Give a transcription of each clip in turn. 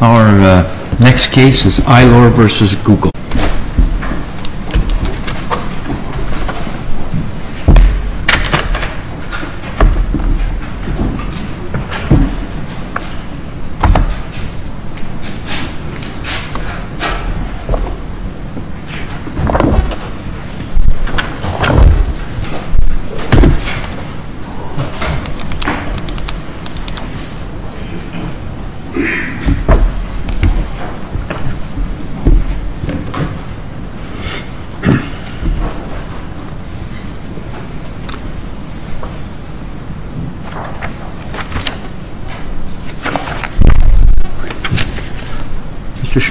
Our next case is ILOR v. GOOGLE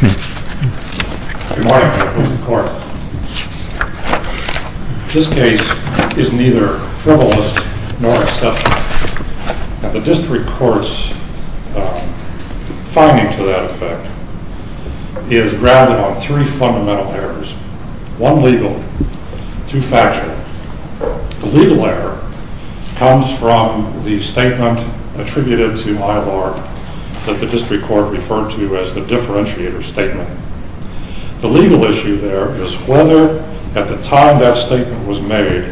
Good morning, Mr. Court. This case is neither frivolous nor acceptable. The District Court's finding to that effect is grounded on three fundamental errors. One legal, two factual. The legal error comes from the statement attributed to ILOR that the District Court referred to as the differentiator statement. The legal issue there is whether, at the time that statement was made,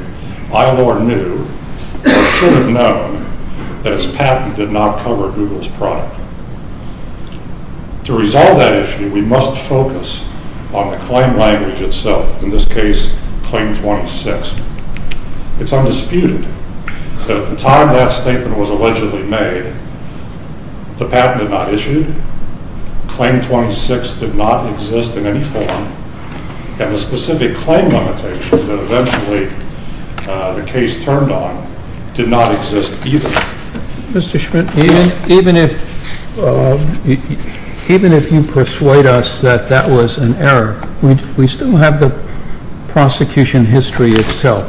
ILOR knew or should have known that its patent did not cover Google's product. To resolve that issue, we must focus on the claim language itself, in this case, Claim 26. It's undisputed that at the time that statement was allegedly made, the patent did not issue, Claim 26 did not exist in any form, and the specific claim limitation that eventually the case turned on did not exist either. Mr. Schmidt, even if you persuade us that that was an error, we still have the prosecution history itself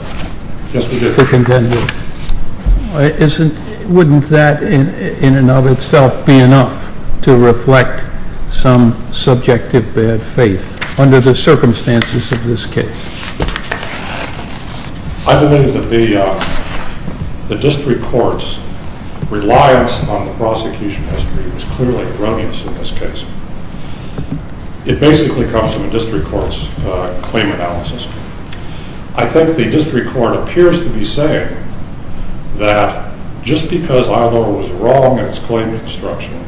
to contend with. Wouldn't that, in and of itself, be enough to reflect some subjective bad faith under the circumstances of this case? I believe that the District Court's reliance on the prosecution history is clearly erroneous in this case. It basically comes from the District Court's claim analysis. I think the District Court appears to be saying that just because ILOR was wrong in its claim construction,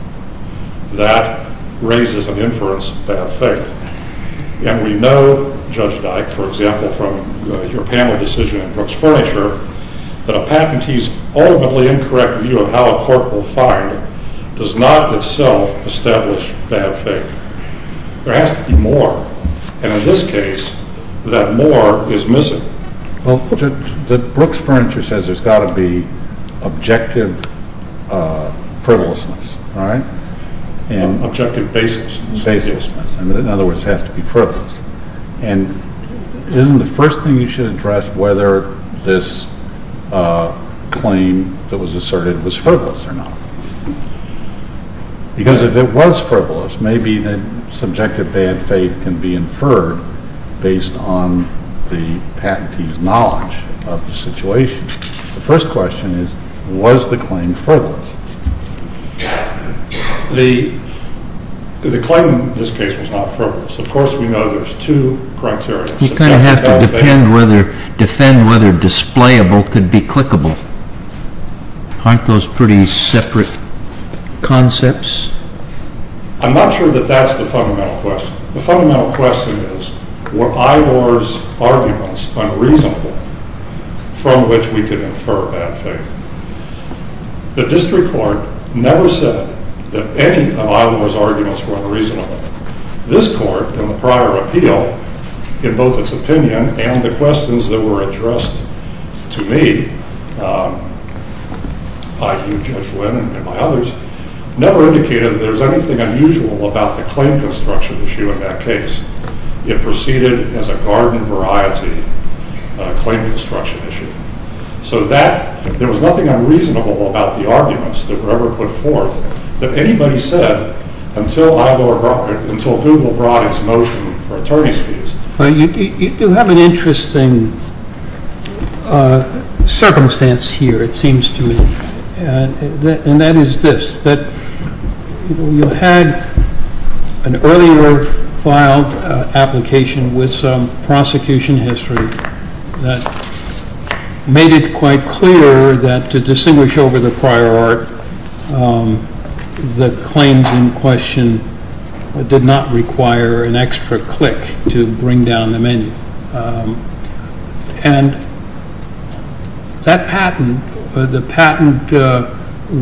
that raises an inference of bad faith. And we know, Judge Dyke, for example, from your panel decision in Brooks Furniture, that a patentee's ultimately incorrect view of how a court will find does not itself establish bad faith. There has to be more, and in this case, that more is missing. Well, Brooks Furniture says there's got to be objective frivolousness, right? Objective baselessness. Baselessness. In other words, it has to be frivolous. And isn't the first thing you should address whether this claim that was asserted was frivolous or not? Because if it was frivolous, maybe the subjective bad faith can be inferred based on the patentee's knowledge of the situation. The first question is, was the claim frivolous? The claim in this case was not frivolous. Of course, we know there's two criteria. You kind of have to defend whether displayable could be clickable. Aren't those pretty separate concepts? I'm not sure that that's the fundamental question. The fundamental question is, were ILOR's arguments unreasonable from which we could infer bad faith? The district court never said that any of ILOR's arguments were unreasonable. This court, in the prior appeal, in both its opinion and the questions that were addressed to me by you, Judge Lynn, and by others, never indicated that there was anything unusual about the claim construction issue in that case. It proceeded as a garden variety claim construction issue. So there was nothing unreasonable about the arguments that were ever put forth. That anybody said, until ILOR brought, until Google brought its motion for attorney's fees. You have an interesting circumstance here, it seems to me. And that is this, that you had an earlier filed application with some prosecution history that made it quite clear that to distinguish over the prior art, the claims in question did not require an extra click to bring down the menu. And that patent, the patent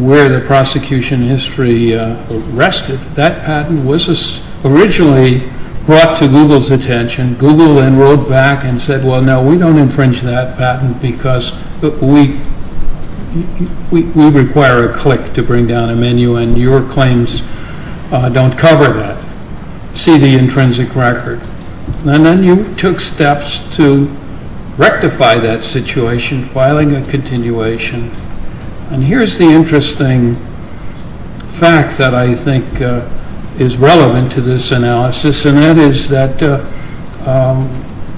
where the prosecution history rested, that patent was originally brought to Google's attention. Google then wrote back and said, well no, we don't infringe that patent because we require a click to bring down a menu and your claims don't cover that. See the intrinsic record. And then you took steps to rectify that situation, filing a continuation. And here's the interesting fact that I think is relevant to this analysis. And that is that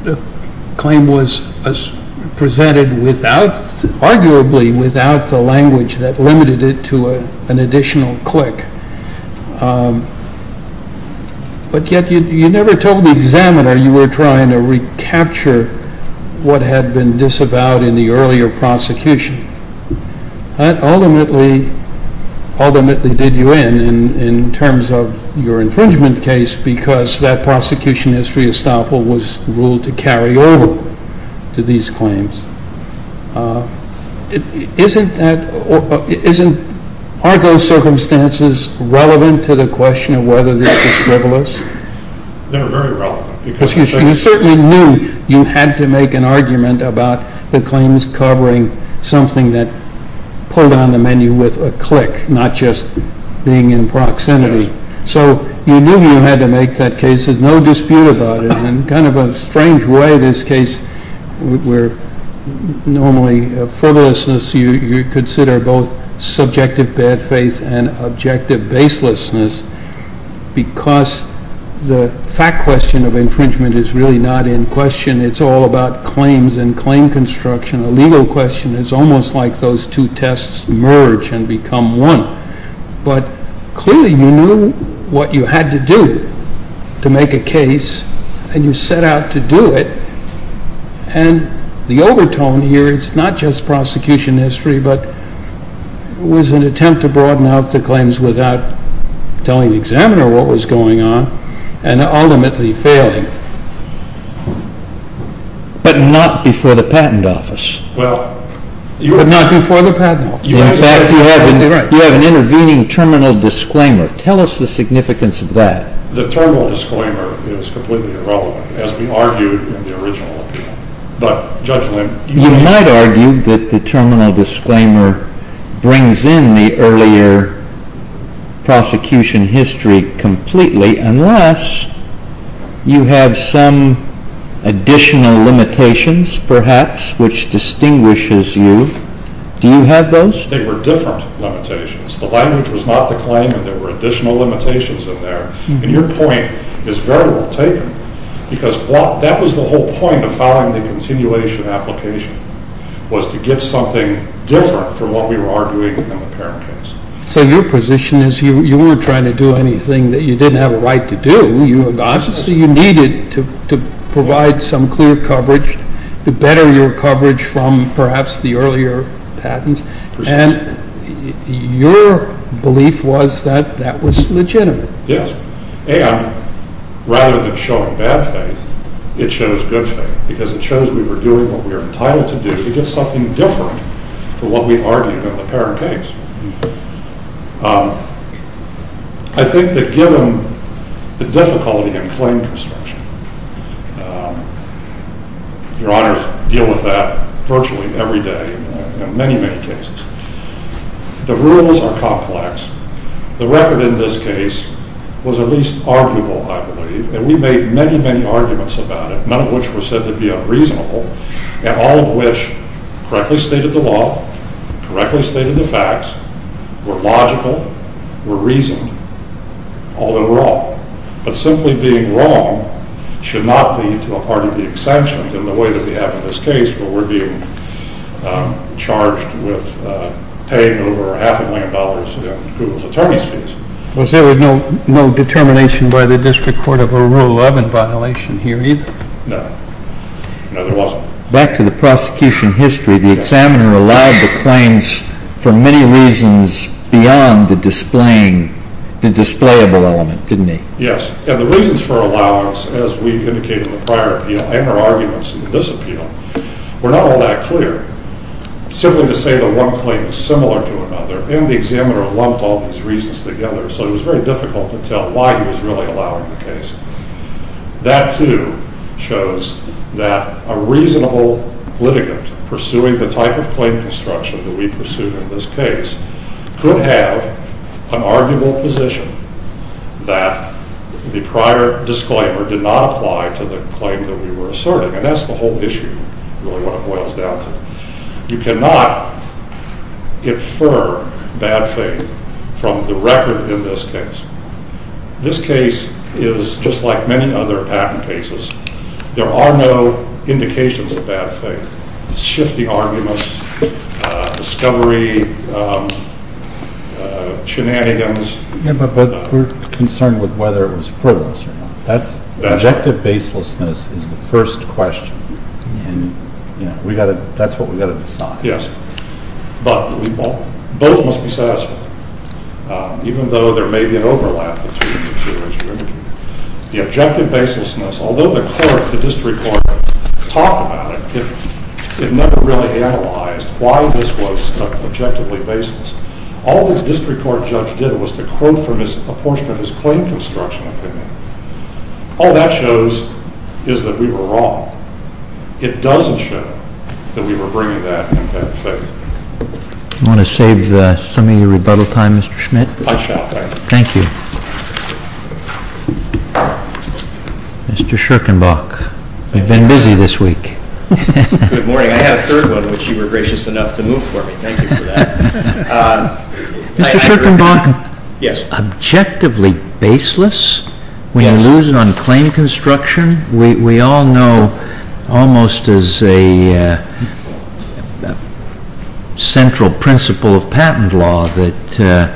the claim was presented arguably without the language that limited it to an additional click. But yet you never told the examiner you were trying to recapture what had been disavowed in the earlier prosecution. That ultimately, ultimately did you in, in terms of your infringement case because that prosecution history estoppel was ruled to carry over to these claims. Isn't that, aren't those circumstances relevant to the question of whether this was frivolous? They were very relevant. You certainly knew you had to make an argument about the claims covering something that pulled on the menu with a click, not just being in proximity. So you knew you had to make that case. There's no dispute about it. In kind of a strange way, this case where normally frivolousness, you consider both subjective bad faith and objective baselessness because the fact question of infringement is really not in question. It's all about claims and claim construction. A legal question is almost like those two tests merge and become one. But clearly you knew what you had to do to make a case and you set out to do it. And the overtone here, it's not just prosecution history, but it was an attempt to broaden out the claims without telling the examiner what was going on and ultimately failing. But not before the patent office. But not before the patent office. In fact, you have an intervening terminal disclaimer. Tell us the significance of that. The terminal disclaimer is completely irrelevant, as we argued in the original appeal. You might argue that the terminal disclaimer brings in the earlier prosecution history completely unless you have some additional limitations, perhaps, which distinguishes you. Do you have those? They were different limitations. The language was not the claimant. There were additional limitations in there. And your point is very well taken because that was the whole point of filing the continuation application, was to get something different from what we were arguing in the parent case. So your position is you weren't trying to do anything that you didn't have a right to do. You needed to provide some clear coverage to better your coverage from perhaps the earlier patents. And your belief was that that was legitimate. Yes. And rather than showing bad faith, it shows good faith because it shows we were doing what we were entitled to do to get something different from what we argued in the parent case. I think that given the difficulty in claim construction, Your Honors deal with that virtually every day in many, many cases. The rules are complex. The record in this case was at least arguable, I believe. And we made many, many arguments about it, none of which were said to be unreasonable, and all of which correctly stated the law, correctly stated the facts, were logical, were reasoned, all overall. But simply being wrong should not lead to a part of the exemption in the way that we have in this case where we're being charged with paying over half a million dollars in Google's attorney's fees. Was there no determination by the District Court of a rule of evidence violation here either? No. No, there wasn't. Back to the prosecution history, the examiner allowed the claims for many reasons beyond the displaying, the displayable element, didn't he? Yes. And the reasons for allowance, as we indicated in the prior appeal, and our arguments in this appeal, were not all that clear. Simply to say that one claim is similar to another, and the examiner lumped all these reasons together, so it was very difficult to tell why he was really allowing the case. That, too, shows that a reasonable litigant pursuing the type of claim construction that we pursued in this case could have an arguable position that the prior disclaimer did not apply to the claim that we were asserting. And that's the whole issue, really, what it boils down to. You cannot infer bad faith from the record in this case. This case is just like many other patent cases. There are no indications of bad faith. Shifty arguments, discovery, shenanigans. But we're concerned with whether it was furtile or not. Objective baselessness is the first question, and that's what we've got to decide. Yes. But both must be satisfied, even though there may be an overlap between the two, as you indicated. The objective baselessness, although the District Court talked about it, it never really analyzed why this was objectively baseless. All the District Court judge did was to quote from a portion of his claim construction opinion. All that shows is that we were wrong. It doesn't show that we were bringing that in bad faith. Do you want to save some of your rebuttal time, Mr. Schmidt? I shall, thank you. Thank you. Mr. Schirkenbach, we've been busy this week. Good morning. I have a third one, which you were gracious enough to move for me. Thank you for that. Mr. Schirkenbach, objectively baseless? Yes. When you lose it on claim construction? We all know, almost as a central principle of patent law, that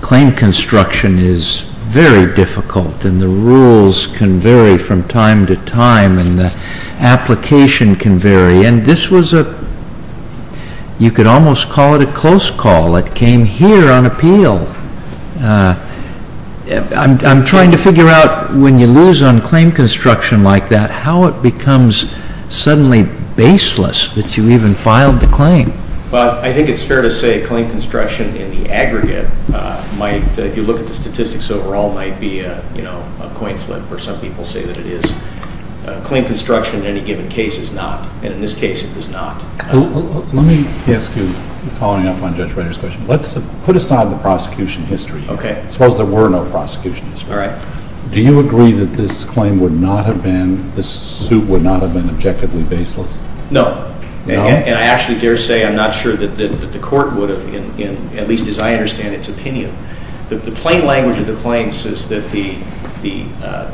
claim construction is very difficult, and the rules can vary from time to time, and the application can vary. You could almost call it a close call. It came here on appeal. I'm trying to figure out when you lose on claim construction like that, how it becomes suddenly baseless that you even filed the claim. I think it's fair to say claim construction in the aggregate, if you look at the statistics overall, might be a coin flip, or some people say that it is. Claim construction in any given case is not, and in this case it was not. Let me ask you, following up on Judge Reiter's question, let's put aside the prosecution history. Okay. Suppose there were no prosecution history. All right. Do you agree that this claim would not have been, this suit would not have been objectively baseless? No. No? And I actually dare say I'm not sure that the court would have, at least as I understand its opinion. The plain language of the claim says that the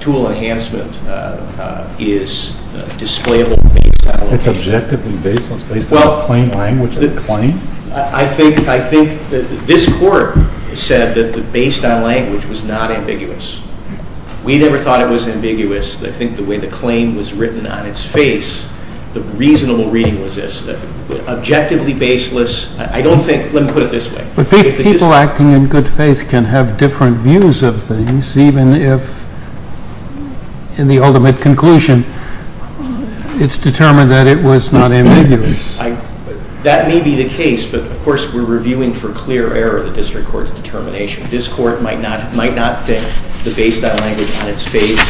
tool enhancement is displayable based on location. It's objectively baseless based on the plain language of the claim? Well, I think this court said that based on language was not ambiguous. We never thought it was ambiguous. I think the way the claim was written on its face, the reasonable reading was this. Objectively baseless, I don't think, let me put it this way. But people acting in good faith can have different views of things, even if in the ultimate conclusion it's determined that it was not ambiguous. That may be the case, but, of course, we're reviewing for clear error the district court's determination. This court might not think that based on language on its face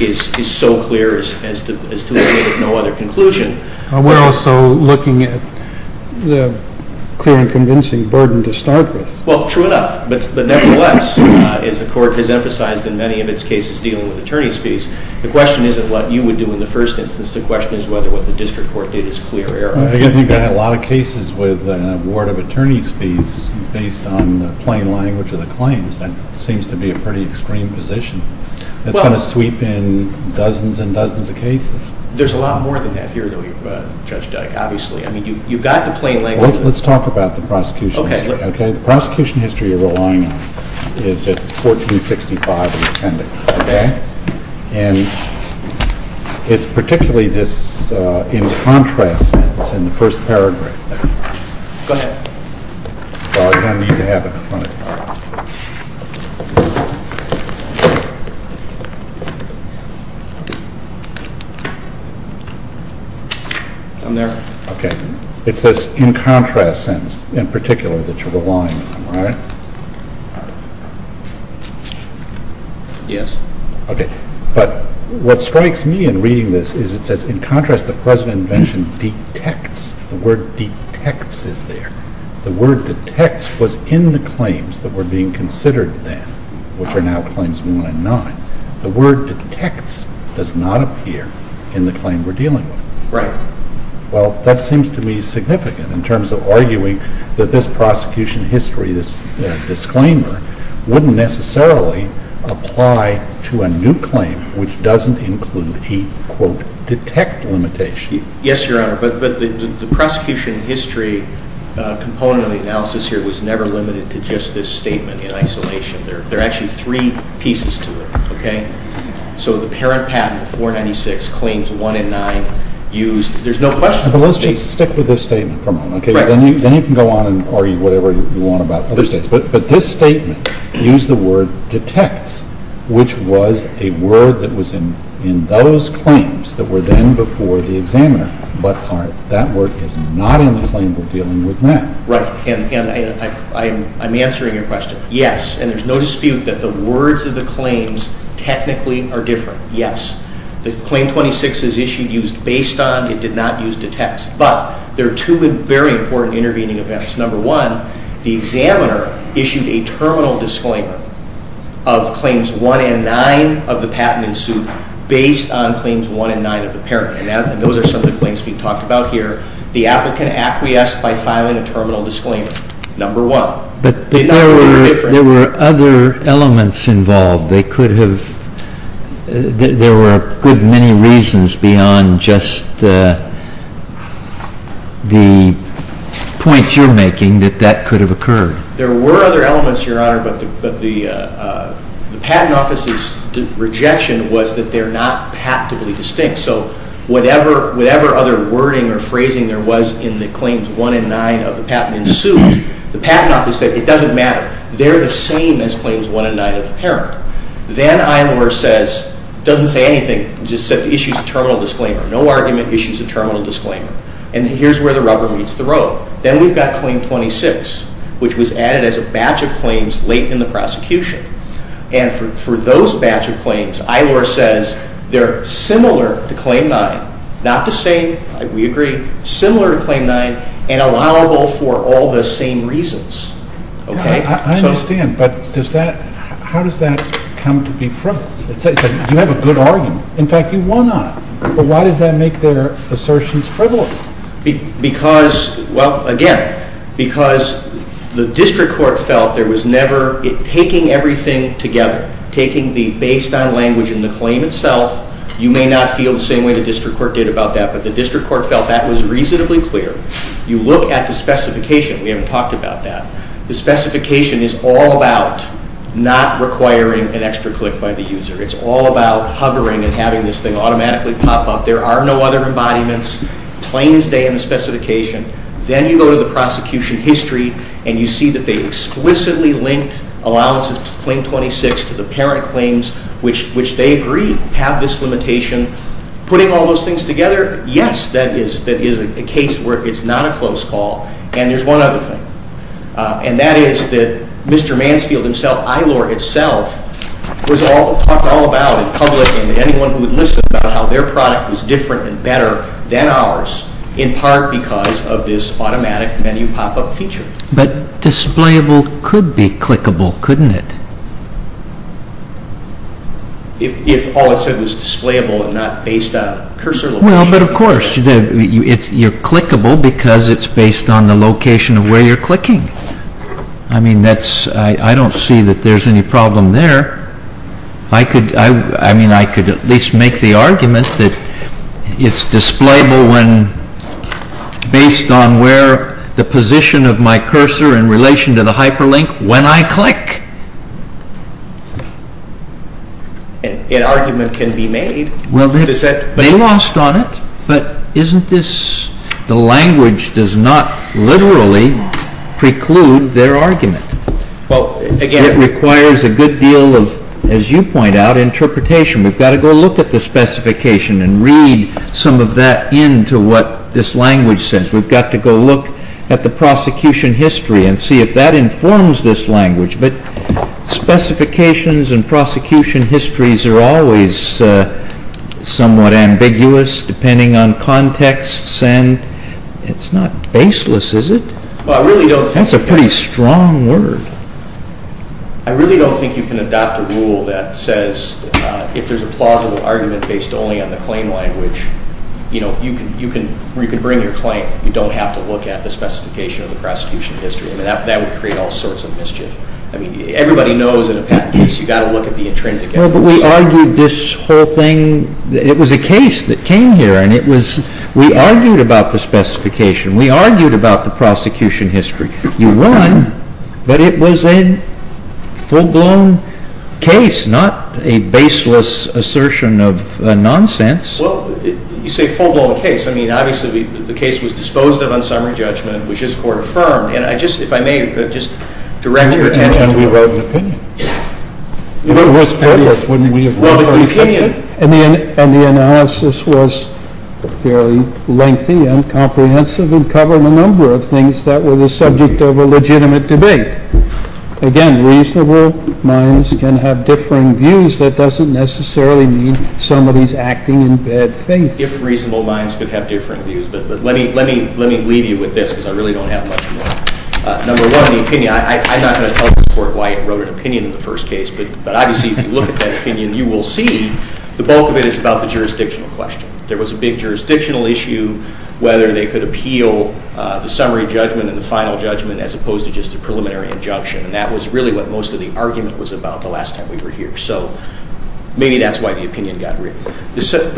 is so clear as to make it no other conclusion. We're also looking at the clear and convincing burden to start with. Well, true enough, but nevertheless, as the court has emphasized in many of its cases dealing with attorney's fees, the question isn't what you would do in the first instance. The question is whether what the district court did is clear error. I think I had a lot of cases with an award of attorney's fees based on the plain language of the claims. That seems to be a pretty extreme position. It's going to sweep in dozens and dozens of cases. There's a lot more than that here, though, Judge Dyck, obviously. I mean, you've got the plain language. Let's talk about the prosecution history. The prosecution history you're relying on is at 1465 in the appendix. Okay. And it's particularly this in contrast sense in the first paragraph. Go ahead. Well, I don't need to have it in front of me. I'm there. Okay. It's this in contrast sense in particular that you're relying on, right? Yes. Okay. But what strikes me in reading this is it says, in contrast, the present invention detects. The word detects is there. The word detects was in the claims that were being considered then, which are now claims 1 and 9. The word detects does not appear in the claim we're dealing with. Right. Well, that seems to me significant in terms of arguing that this prosecution history, this disclaimer, wouldn't necessarily apply to a new claim, which doesn't include a, quote, detect limitation. Yes, Your Honor, but the prosecution history component of the analysis here was never limited to just this statement in isolation. There are actually three pieces to it, okay? So the parent patent, 496, claims 1 and 9, there's no question. Let's just stick with this statement for a moment. Then you can go on and argue whatever you want about other states. But this statement, use the word detects, which was a word that was in those claims that were then before the examiner, but that word is not in the claim we're dealing with now. Right. And I'm answering your question. Yes, and there's no dispute that the words of the claims technically are different. Yes. The Claim 26 is issued, used based on, it did not use detects. But there are two very important intervening events. Number one, the examiner issued a terminal disclaimer of Claims 1 and 9 of the patent in suit based on Claims 1 and 9 of the parent. And those are some of the claims we've talked about here. The applicant acquiesced by filing a terminal disclaimer, number one. But there were other elements involved. There were a good many reasons beyond just the point you're making that that could have occurred. There were other elements, Your Honor, but the Patent Office's rejection was that they're not patently distinct. So whatever other wording or phrasing there was in the Claims 1 and 9 of the patent in suit, the Patent Office said it doesn't matter. They're the same as Claims 1 and 9 of the parent. Then Eilor says, doesn't say anything, just said the issue's a terminal disclaimer. No argument, issue's a terminal disclaimer. And here's where the rubber meets the road. Then we've got Claim 26, which was added as a batch of claims late in the prosecution. And for those batch of claims, Eilor says they're similar to Claim 9, not the same, we agree, similar to Claim 9 and allowable for all the same reasons. Okay. I understand, but how does that come to be frivolous? You have a good argument. In fact, you won on it. But why does that make their assertions frivolous? Because, well, again, because the District Court felt there was never taking everything together, taking the based on language in the claim itself. You may not feel the same way the District Court did about that, but the District Court felt that was reasonably clear. You look at the specification. We haven't talked about that. The specification is all about not requiring an extra click by the user. It's all about hovering and having this thing automatically pop up. There are no other embodiments. Plains day in the specification. Then you go to the prosecution history, and you see that they explicitly linked allowances to Claim 26 to the parent claims, which they agree have this limitation. Putting all those things together, yes, that is a case where it's not a close call. And there's one other thing. And that is that Mr. Mansfield himself, ILOR itself, talked all about in public and anyone who would listen about how their product was different and better than ours, in part because of this automatic menu pop-up feature. But displayable could be clickable, couldn't it? If all it said was displayable and not based on cursor location? Well, but of course. You're clickable because it's based on the location of where you're clicking. I don't see that there's any problem there. I could at least make the argument that it's displayable based on where the position of my cursor in relation to the hyperlink when I click. An argument can be made. They lost on it, but the language does not literally preclude their argument. It requires a good deal of, as you point out, interpretation. We've got to go look at the specification and read some of that into what this language says. We've got to go look at the prosecution history and see if that informs this language. But specifications and prosecution histories are always somewhat ambiguous depending on context. And it's not baseless, is it? That's a pretty strong word. I really don't think you can adopt a rule that says if there's a plausible argument based only on the claim language, where you can bring your claim, you don't have to look at the specification of the prosecution history. That would create all sorts of mischief. Everybody knows in a patent case you've got to look at the intrinsic evidence. Well, but we argued this whole thing. It was a case that came here, and we argued about the specification. We argued about the prosecution history. You won, but it was a full-blown case, not a baseless assertion of nonsense. Well, you say full-blown case. I mean, obviously, the case was disposed of on summary judgment, which is court-affirmed. And I just, if I may, just direct your attention to the… And we wrote an opinion. If it was fair, wouldn't we have wrote an opinion? And the analysis was fairly lengthy and comprehensive and covered a number of things that were the subject of a legitimate debate. Again, reasonable minds can have differing views. That doesn't necessarily mean somebody's acting in bad faith. If reasonable minds could have different views. But let me leave you with this, because I really don't have much more. Number one, the opinion. I'm not going to tell the court why it wrote an opinion in the first case, but obviously, if you look at that opinion, you will see the bulk of it is about the jurisdictional question. There was a big jurisdictional issue, whether they could appeal the summary judgment and the final judgment as opposed to just a preliminary injunction. And that was really what most of the argument was about the last time we were here. So maybe that's why the opinion got written. But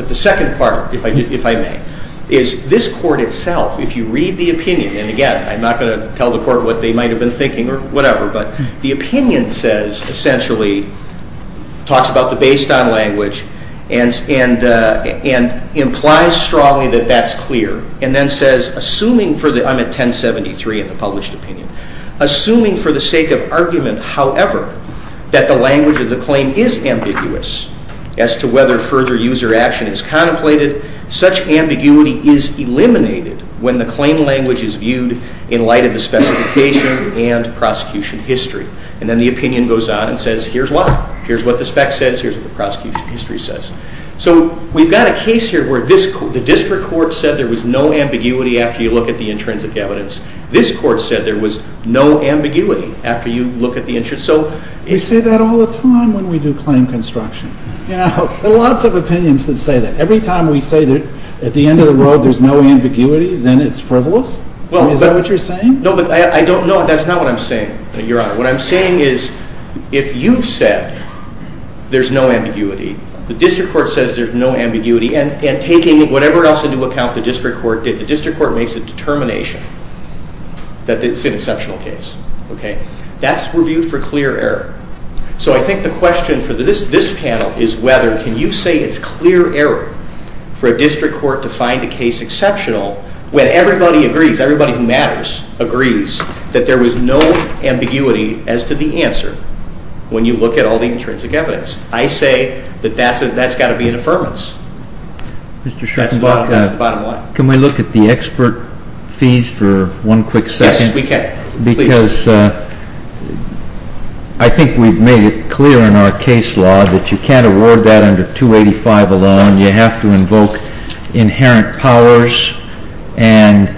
the second part, if I may, is this court itself, if you read the opinion, and again, I'm not going to tell the court what they might have been thinking or whatever, but the opinion essentially talks about the based on language and implies strongly that that's clear. And then says, I'm at 1073 in the published opinion, assuming for the sake of argument, however, that the language of the claim is ambiguous as to whether further user action is contemplated, such ambiguity is eliminated when the claim language is viewed in light of the specification and prosecution history. And then the opinion goes on and says, here's why. Here's what the spec says. Here's what the prosecution history says. So we've got a case here where the district court said there was no ambiguity after you look at the intrinsic evidence. This court said there was no ambiguity after you look at the intrinsic evidence. We say that all the time when we do claim construction. There are lots of opinions that say that. Every time we say that at the end of the road there's no ambiguity, then it's frivolous? Is that what you're saying? No, but I don't know. That's not what I'm saying, Your Honor. What I'm saying is if you've said there's no ambiguity, the district court says there's no ambiguity, and taking whatever else into account the district court did, the district court makes a determination that it's an exceptional case. That's reviewed for clear error. So I think the question for this panel is whether can you say it's clear error for a district court to find a case exceptional when everybody agrees, everybody who matters agrees, that there was no ambiguity as to the answer when you look at all the intrinsic evidence. I say that that's got to be an affirmance. That's the bottom line. Can we look at the expert fees for one quick second? Yes, we can. Because I think we've made it clear in our case law that you can't award that under 285 alone. You have to invoke inherent powers, and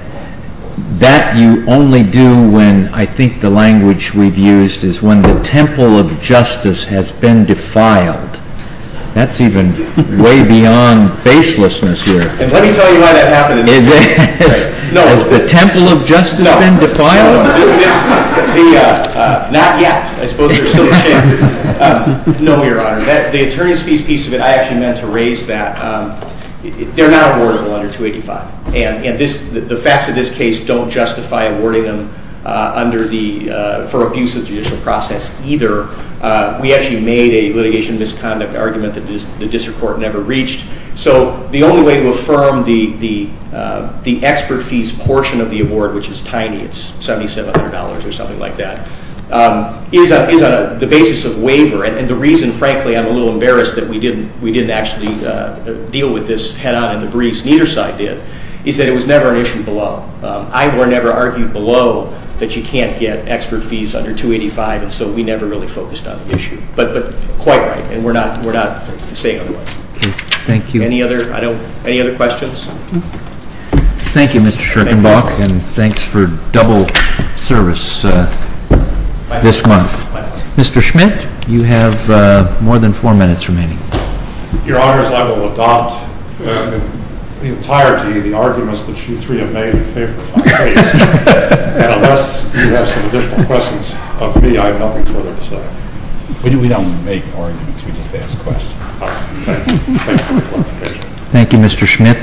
that you only do when I think the language we've used is when the temple of justice has been defiled. That's even way beyond baselessness here. And let me tell you why that happened in this case. Has the temple of justice been defiled? Not yet. I suppose there's still a chance. No, Your Honor. The attorney's fees piece of it, I actually meant to raise that. They're not awardable under 285. And the facts of this case don't justify awarding them for abuse of judicial process either. We actually made a litigation misconduct argument that the district court never reached. So the only way to affirm the expert fees portion of the award, which is tiny, it's $7,700 or something like that, is on the basis of waiver. And the reason, frankly, I'm a little embarrassed that we didn't actually deal with this head on in the briefs, neither side did, is that it was never an issue below. Ivor never argued below that you can't get expert fees under 285, and so we never really focused on the issue. But quite right, and we're not saying otherwise. Thank you. Any other questions? Thank you, Mr. Schirkenbach, and thanks for double service this month. Mr. Schmidt, you have more than four minutes remaining. Your Honor, as I will adopt in entirety the arguments that you three have made in favor of my case, and unless you have some additional questions of me, I have nothing further to say. We don't make arguments. We just ask questions. Thank you, Mr. Schmidt.